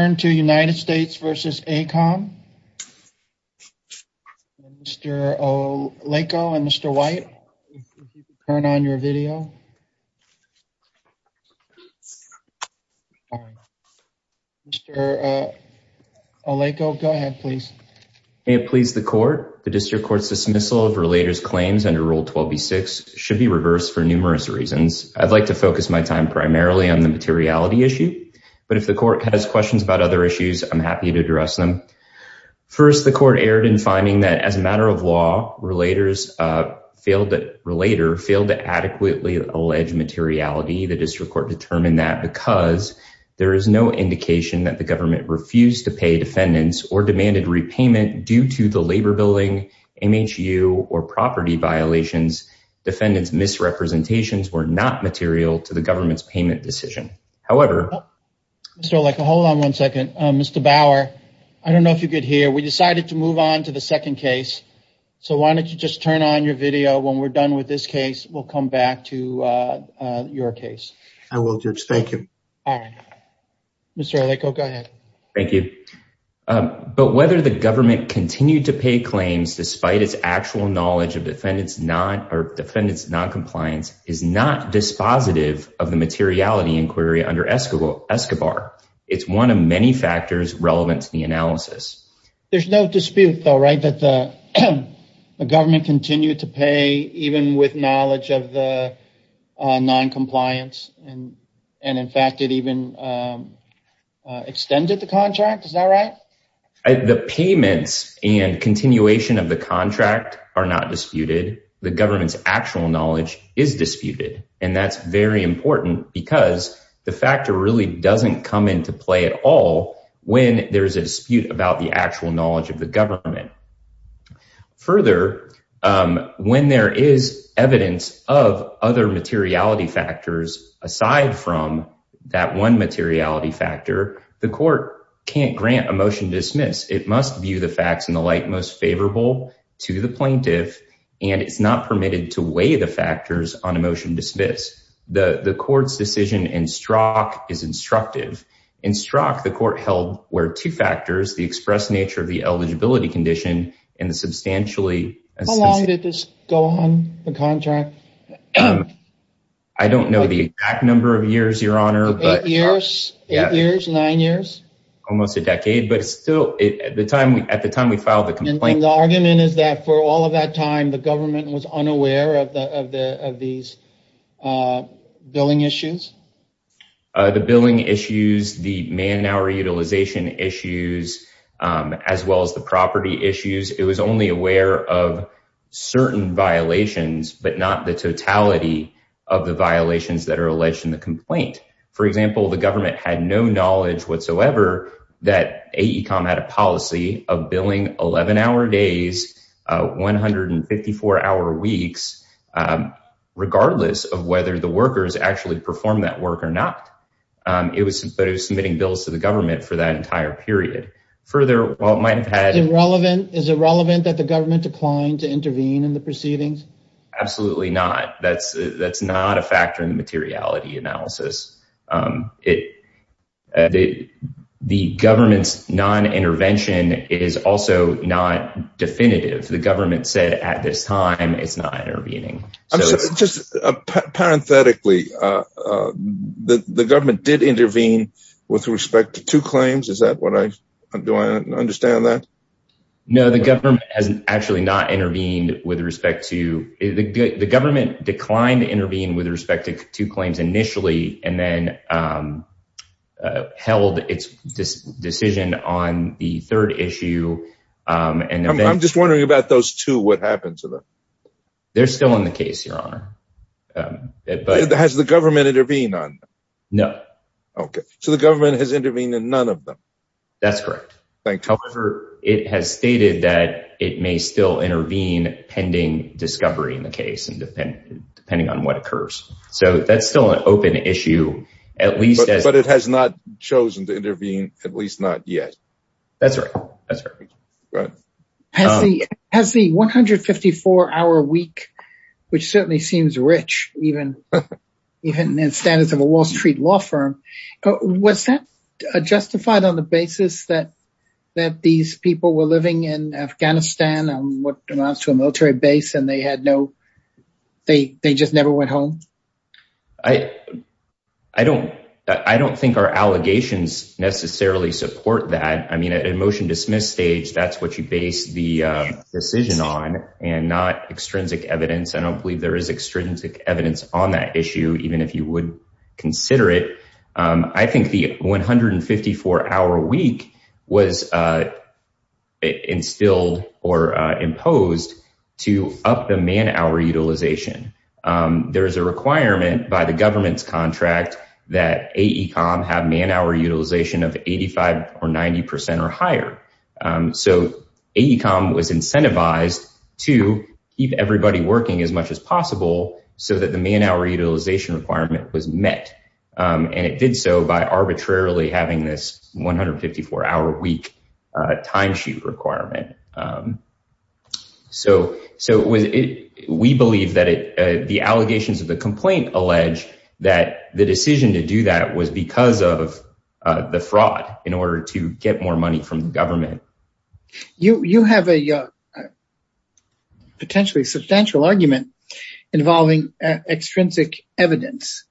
Turn to United States v. AECOM. Mr. Oleko and Mr. White, turn on your video. Mr. Oleko, go ahead, please. May it please the Court, the District Court's dismissal of relators' claims under Rule 12b-6 should be reversed for numerous reasons. I'd like to focus my time primarily on the materiality issue, but if the Court has questions about other issues, I'm happy to address them. First, the Court erred in finding that as a matter of law, relators failed to adequately allege materiality. The District Court determined that because there is no indication that the government refused to pay defendants or demanded repayment due to the labor billing, MHU, or property violations, defendants' misrepresentations were not material to the government's payment decision. However... Mr. Oleko, hold on one second. Mr. Bauer, I don't know if you could hear. We decided to move on to the second case, so why don't you just turn on your video. When we're done with this case, we'll come back to your case. I will, Judge. Thank you. All right. Mr. Oleko, go ahead. Thank you. But whether the government continued to pay claims despite its actual knowledge of defendants' noncompliance is not dispositive of the materiality inquiry under ESCOBAR. It's one of many factors relevant to the analysis. There's no dispute, though, right, that the government continued to pay even with knowledge of the noncompliance, and in fact, it even extended the contract? Is that right? The payments and continuation of the contract are not disputed. The government's actual knowledge is disputed, and that's very important because the factor really doesn't come into play at all when there's a dispute about the actual knowledge of the government. Further, when there is evidence of other materiality factors aside from that one materiality factor, the court can't grant a motion to dismiss. It must view the facts in the light most favorable to the plaintiff, and it's not permitted to weigh the factors on a motion to dismiss. The court's decision in Strzok is instructive. In Strzok, the court held where two factors, the express nature of the eligibility condition and the substantially- How long did this go on, the contract? I don't know the exact number of years, Your Honor, but- Almost nine years? Almost a decade, but it's still, at the time we filed the complaint- And the argument is that for all of that time, the government was unaware of these billing issues? The billing issues, the man-hour utilization issues, as well as the property issues, it was only aware of certain violations, but not the totality of the violations that are whatsoever, that AECOM had a policy of billing 11-hour days, 154-hour weeks, regardless of whether the workers actually performed that work or not. It was submitting bills to the government for that entire period. Further, while it might have had- Is it relevant that the government declined to intervene in the proceedings? Absolutely not. That's not a factor in the materiality analysis. The government's non-intervention is also not definitive. The government said at this time it's not intervening. Just parenthetically, the government did intervene with respect to two claims? Is that what I- Do I understand that? No, the government has actually not intervened with respect to- The government declined to intervene with respect to two claims initially, and then held its decision on the third issue. I'm just wondering about those two, what happened to them? They're still in the case, Your Honor. Has the government intervened on them? No. Okay. So the government has intervened in none of them? That's correct. Thank you. However, it has stated that it may still intervene pending discovery in the case, depending on what occurs. So that's still an open issue, at least as- But it has not chosen to intervene, at least not yet? That's right. That's right. Has the 154-hour week, which certainly seems rich, even in standards of a Wall Street law firm, was that justified on the basis that these people were living in Afghanistan, on what amounts to a military base, and they had no- They just never went home? I don't think our allegations necessarily support that. I mean, at a motion dismiss stage, that's what you base the decision on, and not extrinsic evidence. I don't believe there is consider it. I think the 154-hour week was instilled or imposed to up the man-hour utilization. There is a requirement by the government's contract that AECOM have man-hour utilization of 85% or 90% or higher. So AECOM was incentivized to keep everybody working as much as possible so that the man-hour utilization requirement was met. And it did so by arbitrarily having this 154-hour week timesheet requirement. So we believe that the allegations of the complaint allege that the decision to do that was because of the fraud in order to get more money from the involving extrinsic evidence.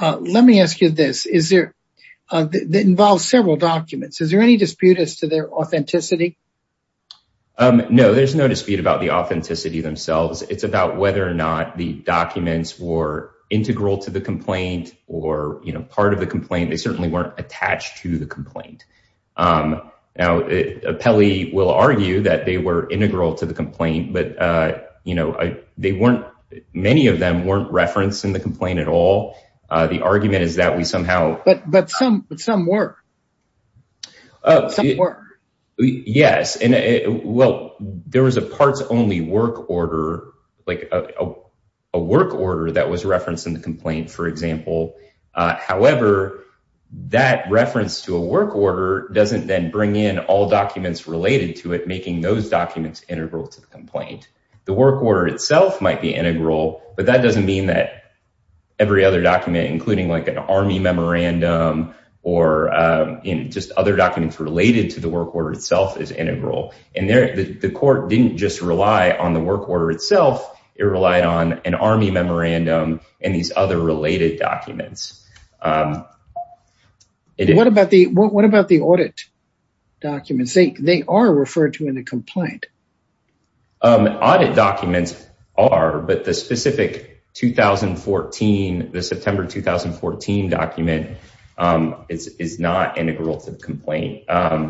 Let me ask you this. It involves several documents. Is there any dispute as to their authenticity? No, there's no dispute about the authenticity themselves. It's about whether or not the documents were integral to the complaint or part of the complaint. They certainly weren't attached to the complaint. Now, Pelley will argue that they were integral to the complaint, but many of them weren't referenced in the complaint at all. The argument is that we somehow... But some work. Yes. Well, there was a parts-only work order that was referenced in the complaint, for example. However, that reference to a work order doesn't then bring in all documents related to it, making those documents integral to the complaint. The work order itself might be integral, but that doesn't mean that every other document, including like an army memorandum or just other documents related to the work order itself is integral. And the court didn't just rely on the work order itself. It relied on an army memorandum and these other related documents. What about the audit documents? They are referred to in the complaint. Audit documents are, but the specific 2014, the September 2014 document is not integral to the complaint. And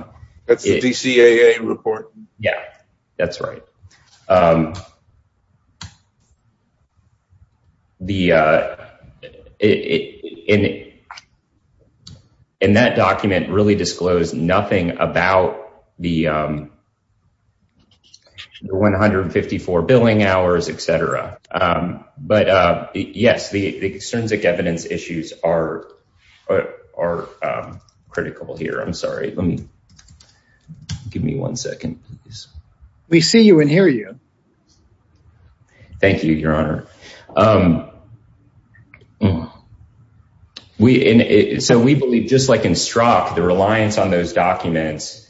that document really disclosed nothing about the 154 billing hours, etc. But yes, the extrinsic evidence issues are critical here. I'm sorry. Give me one second. We see you and hear you. Thank you, Your Honor. So we believe, just like in Strzok, the reliance on those documents,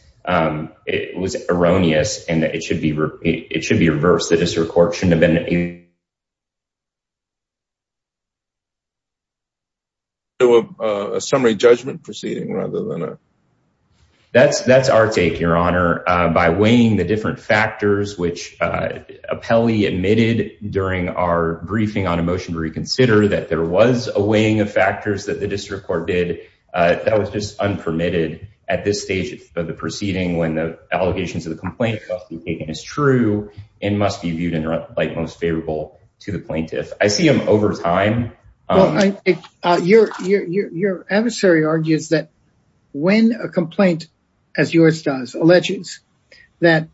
it was erroneous and it should be reversed. The district court shouldn't have been... Do a summary judgment proceeding rather than a... That's our take, Your Honor. By weighing the different factors, which Apelli admitted during our briefing on a motion to reconsider that there was a weighing of factors that the district court did, that was just unpermitted at this stage of the proceeding when the allegations of the complaint must be taken as true and must be viewed in the most favorable light to the plaintiff. I see them over time. Your adversary argues that when a complaint, as yours does, alleges that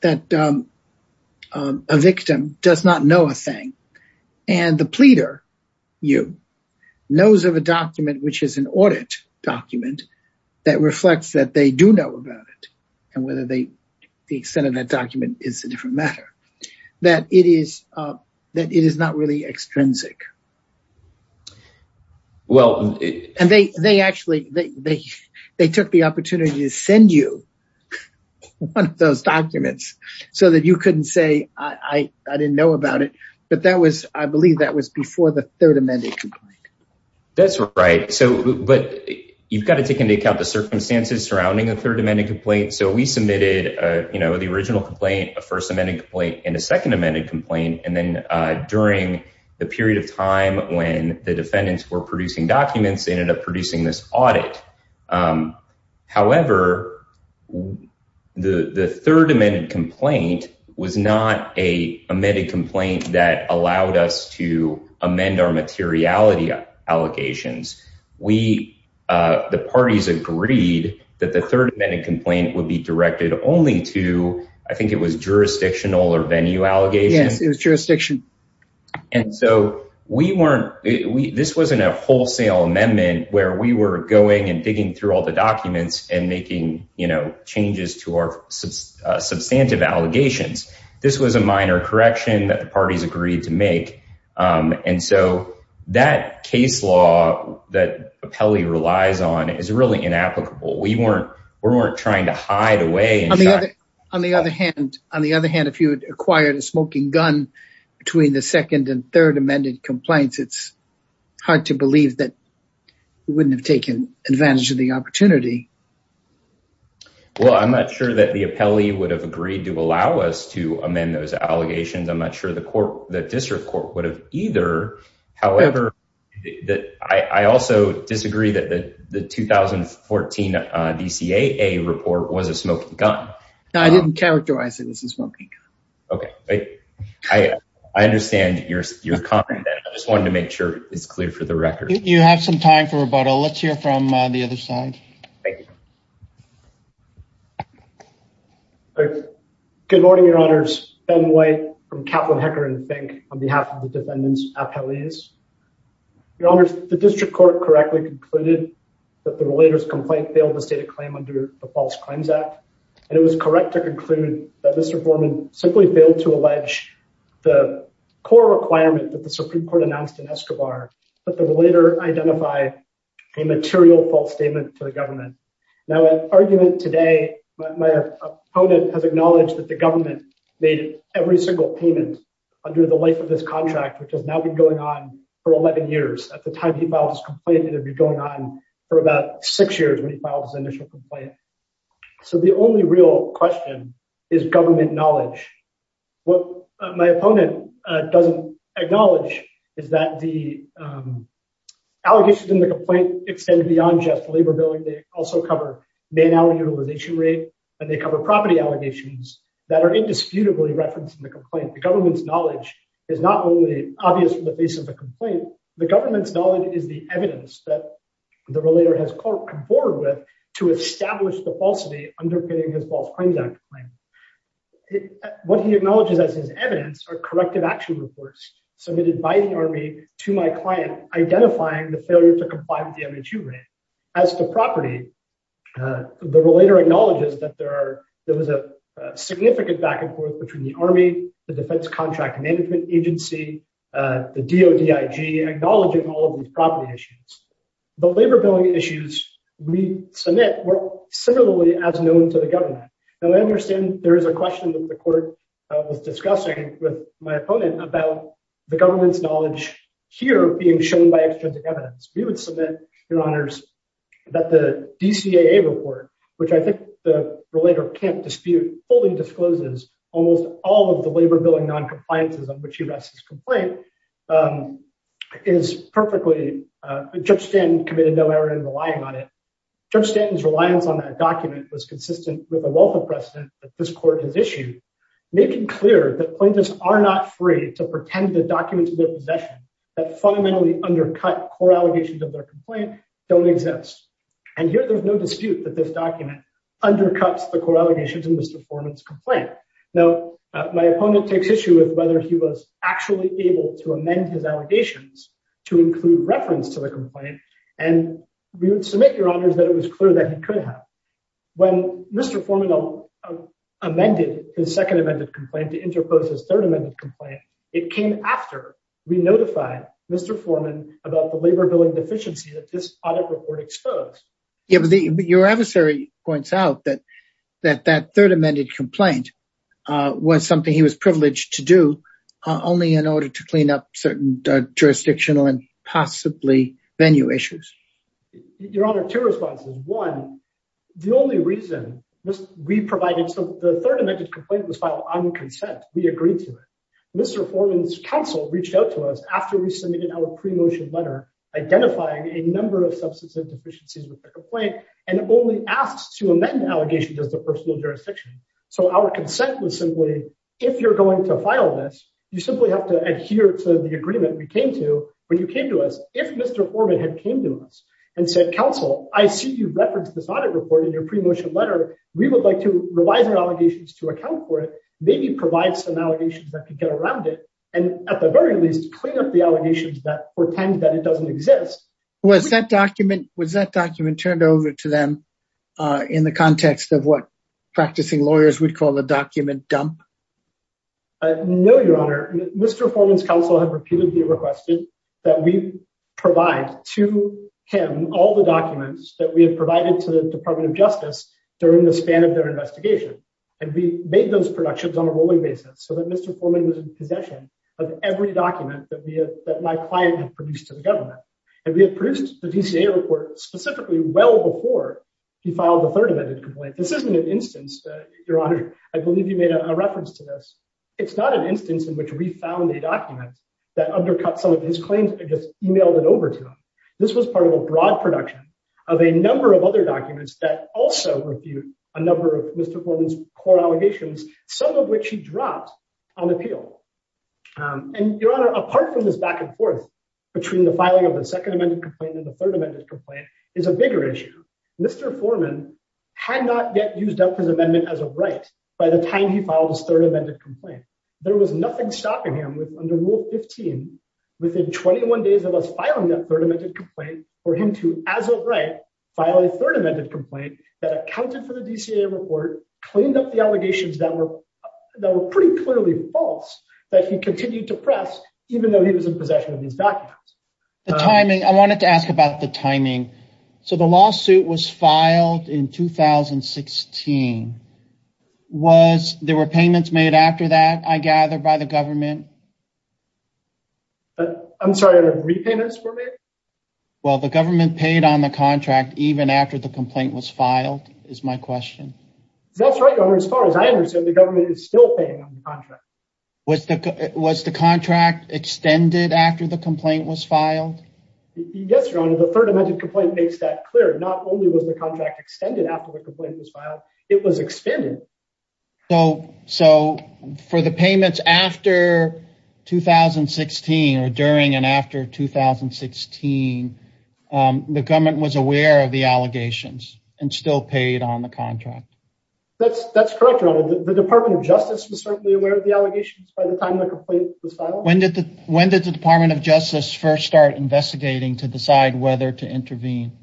a victim does not know a thing and the pleader, you, knows of a document, which is an audit document that reflects that they do know about it and whether the extent of that document is a different matter, that it is not really extrinsic. Well... And they actually, they took the opportunity to send you one of those documents so that you couldn't say, I didn't know about it. But that was, I believe that was before the Third Amendment complaint. That's right. So, but you've got to take into account the circumstances surrounding a Third Amendment complaint. So we submitted the original complaint, a First Amendment complaint, and a Second Amendment complaint, and then during the period of time when the defendants were producing documents, they ended up producing this audit. However, the Third Amendment complaint was not a amended complaint that allowed us to amend our materiality allegations. The parties agreed that the Third Amendment complaint would be directed only to, I think it was jurisdictional or venue allegations. Yes, it was jurisdiction. And so we weren't, this wasn't a wholesale amendment where we were going and digging through all the documents and making, you know, changes to our substantive allegations. This was a minor correction that the parties agreed to make. And so that case law that we weren't trying to hide away. On the other hand, if you had acquired a smoking gun between the second and third amended complaints, it's hard to believe that we wouldn't have taken advantage of the opportunity. Well, I'm not sure that the appellee would have agreed to allow us to amend those allegations. I'm not sure the court, the district court would have either. However, I also disagree that the 2014 DCAA report was a smoking gun. I didn't characterize it as a smoking gun. Okay. I understand your comment. I just wanted to make sure it's clear for the record. You have some time for rebuttal. Let's hear from the other side. Good morning, your honors. Ben White from Kaplan Hecker and Fink on behalf of the defendants appellees. Your honors, the district court correctly concluded that the relator's complaint failed to state a claim under the False Claims Act. And it was correct to conclude that Mr. Foreman simply failed to allege the core requirement that the Supreme Court announced in Escobar, but the relator identified a material false statement to the government. Now an argument today, my opponent has acknowledged that the government made every payment under the life of this contract, which has now been going on for 11 years. At the time he filed his complaint, it had been going on for about six years when he filed his initial complaint. So the only real question is government knowledge. What my opponent doesn't acknowledge is that the allegations in the complaint extend beyond just labor billing. They also cover man hour utilization rate and they cover property allegations that are indisputably referenced in the complaint. The government's knowledge is not only obvious from the face of the complaint, the government's knowledge is the evidence that the relator has come forward with to establish the falsity underpinning his False Claims Act claim. What he acknowledges as his evidence are corrective action reports submitted by the army to my client, identifying the failure to comply with the MHU rate. As to property, the relator acknowledges that there was a significant back and forth between the army, the Defense Contract Management Agency, the DODIG, acknowledging all of these property issues. The labor billing issues we submit were similarly as known to the government. Now I understand there is a question that the court was discussing with my opponent about the government's knowledge here being shown by extrinsic evidence. We would submit, your honors, that the DCAA report, which I think the relator can't dispute, fully discloses almost all of the labor billing non-compliances on which he rests his complaint, is perfectly, Judge Stanton committed no error in relying on it. Judge Stanton's reliance on that document was consistent with the wealth of precedent that this court has issued, making clear that plaintiffs are not free to pretend the documents of their possession that fundamentally undercut core allegations of their complaint don't exist. And here there's no dispute that this document undercuts the core allegations in Mr. Forman's complaint. Now my opponent takes issue with whether he was actually able to amend his allegations to include reference to the complaint, and we would submit, your honors, that it was clear that he could have. When Mr. Forman amended his second amended complaint to interpose his third amended complaint, it came after we about the labor billing deficiency that this audit report exposed. Your adversary points out that that third amended complaint was something he was privileged to do only in order to clean up certain jurisdictional and possibly venue issues. Your honor, two responses. One, the only reason we provided, so the third amended complaint was filed on consent. We agreed to it. Mr. Forman's counsel reached out to us after we submitted our pre-motion letter identifying a number of substantive deficiencies with the complaint and only asked to amend allegations as to personal jurisdiction. So our consent was simply, if you're going to file this, you simply have to adhere to the agreement we came to when you came to us. If Mr. Forman had came to us and said, counsel, I see you referenced this audit report in your pre-motion letter. We would like to revise our allegations to account for it, maybe provide some allegations that could get around it, and at the very least, clean up the allegations that pretend that it doesn't exist. Was that document turned over to them in the context of what practicing lawyers would call the document dump? No, your honor. Mr. Forman's counsel have repeatedly requested that we provide to him all the documents that we have provided to the Department of Justice during the span of their investigation. And we made those productions on a rolling basis so Mr. Forman was in possession of every document that my client had produced to the government. And we have produced the DCA report specifically well before he filed the third amended complaint. This isn't an instance, your honor, I believe you made a reference to this. It's not an instance in which we found a document that undercut some of his claims and just emailed it over to him. This was part of a broad production of a number of other documents that also refute a number of Mr. Forman's claims that he dropped on appeal. And your honor, apart from this back and forth between the filing of the second amended complaint and the third amended complaint is a bigger issue. Mr. Forman had not yet used up his amendment as a right by the time he filed his third amended complaint. There was nothing stopping him with under Rule 15 within 21 days of us filing that third amended complaint for him to as a right file a third amended complaint that accounted for the DCA report, cleaned up the allegations that were that were pretty clearly false that he continued to press even though he was in possession of these documents. The timing, I wanted to ask about the timing. So the lawsuit was filed in 2016. Was there were payments made after that, I gather, by the government? I'm sorry, repayments were made? Well, the government paid on the contract even after the complaint was filed is my question. That's right, your honor. As far as I understand, the government is still paying on the contract. Was the contract extended after the complaint was filed? Yes, your honor. The third amended complaint makes that clear. Not only was the contract extended after the complaint was filed, it was expanded. So for the payments after 2016 or during and after 2016, the government was aware of the allegations and still paid on the contract. That's correct, your honor. The Department of Justice was certainly aware of the allegations by the time the complaint was filed. When did the when did the Department of Justice first start investigating to decide whether to intervene?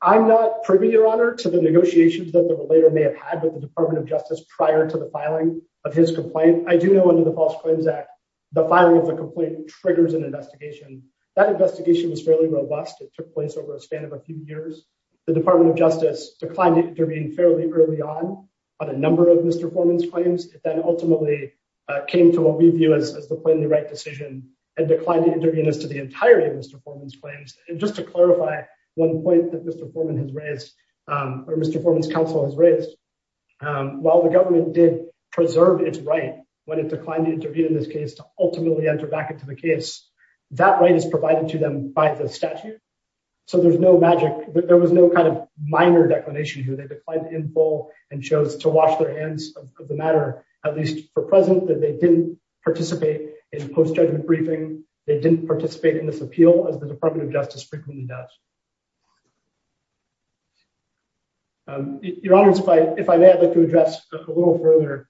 I'm not privy, your honor, to the negotiations that they later may have had with the Department of Justice prior to the filing of his complaint. I do know under the False Claims Act, the filing of the complaint triggers an investigation. That investigation was fairly robust. It took place over the span of a few years. The Department of Justice declined to intervene fairly early on on a number of Mr. Forman's claims. It then ultimately came to what we view as the plainly right decision and declined to intervene as to the entirety of Mr. Forman's claims. And just to clarify one point that Mr. Forman's counsel has raised, while the government did preserve its right when it declined to intervene in this case to ultimately enter back into the case, that right is provided to them by the statute. So there's no magic, there was no kind of minor declination here. They declined in full and chose to wash their hands of the matter, at least for present that they didn't participate in post-judgment briefing. They didn't participate in this appeal as the Department of Justice frequently does. Your Honor, if I may, I'd like to address a little further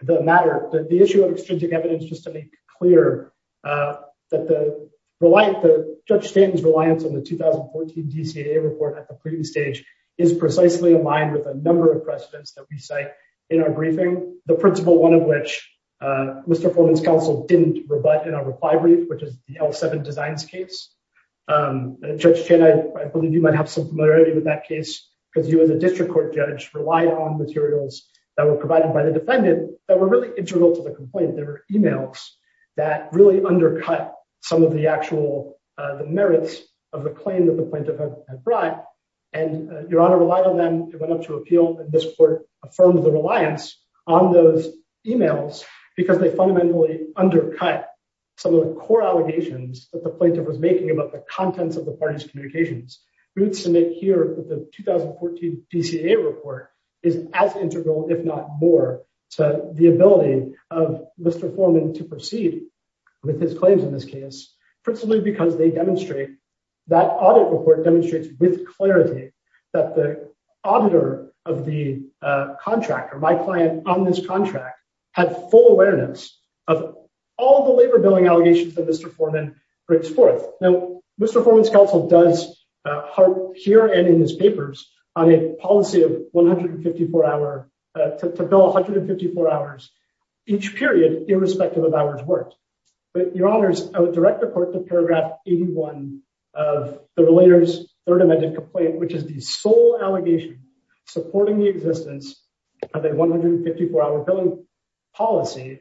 the matter, the issue of extrinsic evidence, just to make clear that the reliance, Judge Stanton's reliance on the 2014 DCAA report at the previous stage is precisely aligned with a number of precedents that we cite in our briefing. The principle, one of which Mr. Forman's counsel didn't rebut in our brief, and Judge Chen, I believe you might have some familiarity with that case, because you as a district court judge relied on materials that were provided by the defendant that were really integral to the complaint. They were emails that really undercut some of the actual merits of the claim that the plaintiff had brought. And Your Honor relied on them, it went up to appeal, and this court affirmed the reliance on those emails because they the parties' communications. Roots to make clear that the 2014 DCAA report is as integral, if not more, to the ability of Mr. Forman to proceed with his claims in this case, principally because they demonstrate, that audit report demonstrates with clarity that the auditor of the contractor, my client on this contract, had full awareness of all the labor billing allegations that Mr. Forman brings forth. Now, Mr. Forman's counsel does harp here and in his papers on a policy of 154 hour, to bill 154 hours each period, irrespective of hours worked. But Your Honors, I would direct the court to paragraph 81 of the relator's third amended complaint, which is the sole allegation supporting the existence of a 154 hour billing policy,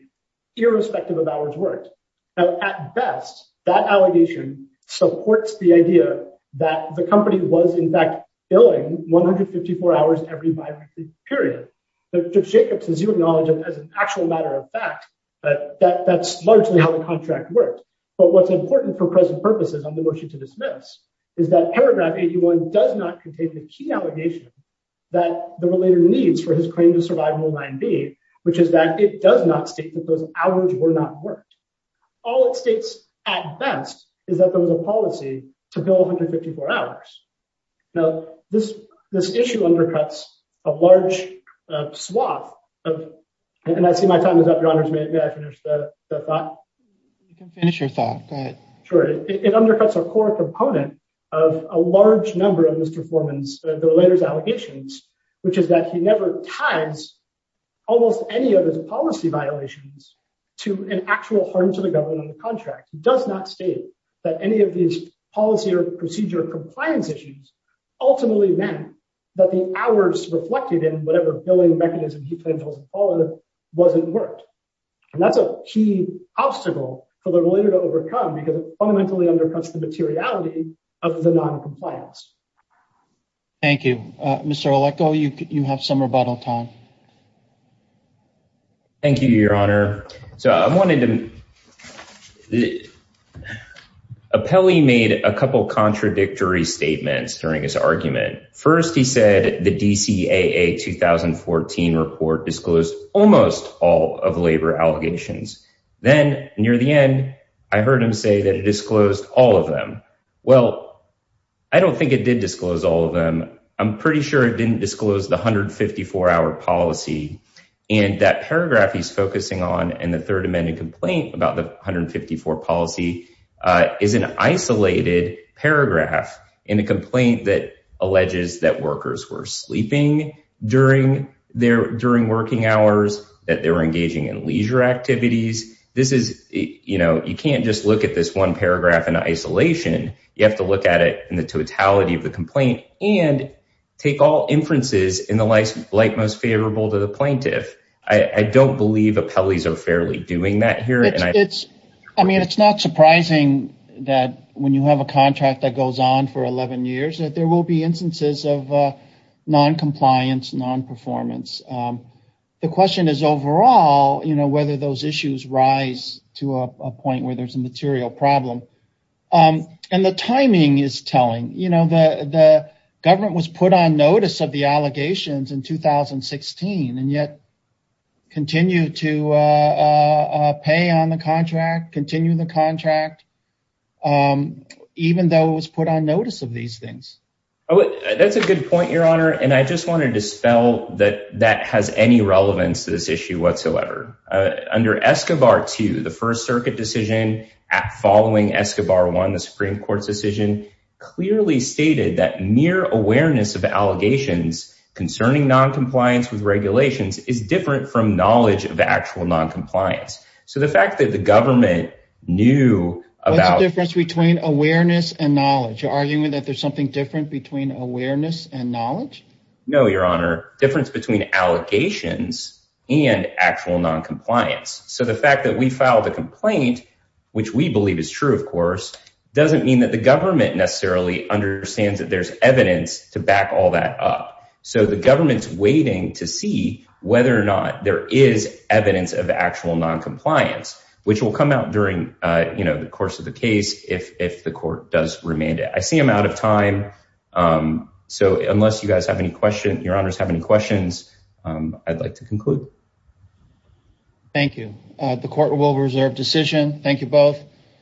irrespective of hours worked. Now, at best, that allegation supports the idea that the company was in fact billing 154 hours every bi-weekly period. But Judge Jacobs, as you acknowledge, as an actual matter of fact, that's largely how the contract worked. But what's important for present purposes on the motion to dismiss is that paragraph 81 does not contain the key allegation that the hours were not worked. All it states, at best, is that there was a policy to bill 154 hours. Now, this issue undercuts a large swath of, and I see my time is up, Your Honors, may I finish the thought? You can finish your thought, go ahead. Sure, it undercuts a core component of a large number of Mr. Forman's, the relator's allegations, which is that he never tithes almost any of his policy violations to an actual harm to the government and the contract. He does not state that any of these policy or procedure compliance issues ultimately meant that the hours reflected in whatever billing mechanism he planned to follow wasn't worked. And that's a key obstacle for the relator to overcome, because it fundamentally undercuts the materiality of the non-compliance. Thank you. Mr. Oleko, you have some rebuttal time. Thank you, Your Honor. So I wanted to, Appelli made a couple contradictory statements during his argument. First, he said the DCAA 2014 report disclosed almost all of labor allegations. Then, near the end, I heard him say that it disclosed all of them. Well, I don't think it did disclose all of them. I'm pretty sure it didn't disclose the 154-hour policy. And that paragraph he's focusing on in the Third Amendment complaint about the 154 policy is an isolated paragraph in a complaint that alleges that workers were sleeping during working hours, that they were engaging in leisure activities. This is, you know, you can't just look at this one paragraph in isolation. You have to look at it in the totality of the complaint and take all inferences in the light most favorable to the plaintiff. I don't believe Appelli's are fairly doing that here. I mean, it's not surprising that when you have a contract that goes on for 11 years that there will be instances of non-compliance, non-performance. The question is overall, you know, and the timing is telling. You know, the government was put on notice of the allegations in 2016 and yet continued to pay on the contract, continue the contract, even though it was put on notice of these things. Oh, that's a good point, Your Honor, and I just wanted to spell that that has any relevance to this issue whatsoever. Under ESCOBAR 2, the First Circuit decision following ESCOBAR 1, the Supreme Court's decision clearly stated that mere awareness of allegations concerning non-compliance with regulations is different from knowledge of actual non-compliance. So the fact that the government knew about... What's the difference between awareness and knowledge? You're arguing that there's something different between awareness and knowledge? No, Your Honor, difference between allegations and actual non-compliance. So the fact that we filed a complaint, which we believe is true, of course, doesn't mean that the government necessarily understands that there's evidence to back all that up. So the government's waiting to see whether or not there is evidence of actual non-compliance, which will come out during, you know, the course of the case if the court does remand it. I see I'm out of time, so unless you guys have any questions, Your Honors have any questions, I'd like to conclude. Thank you. The court will reserve decision. Thank you both.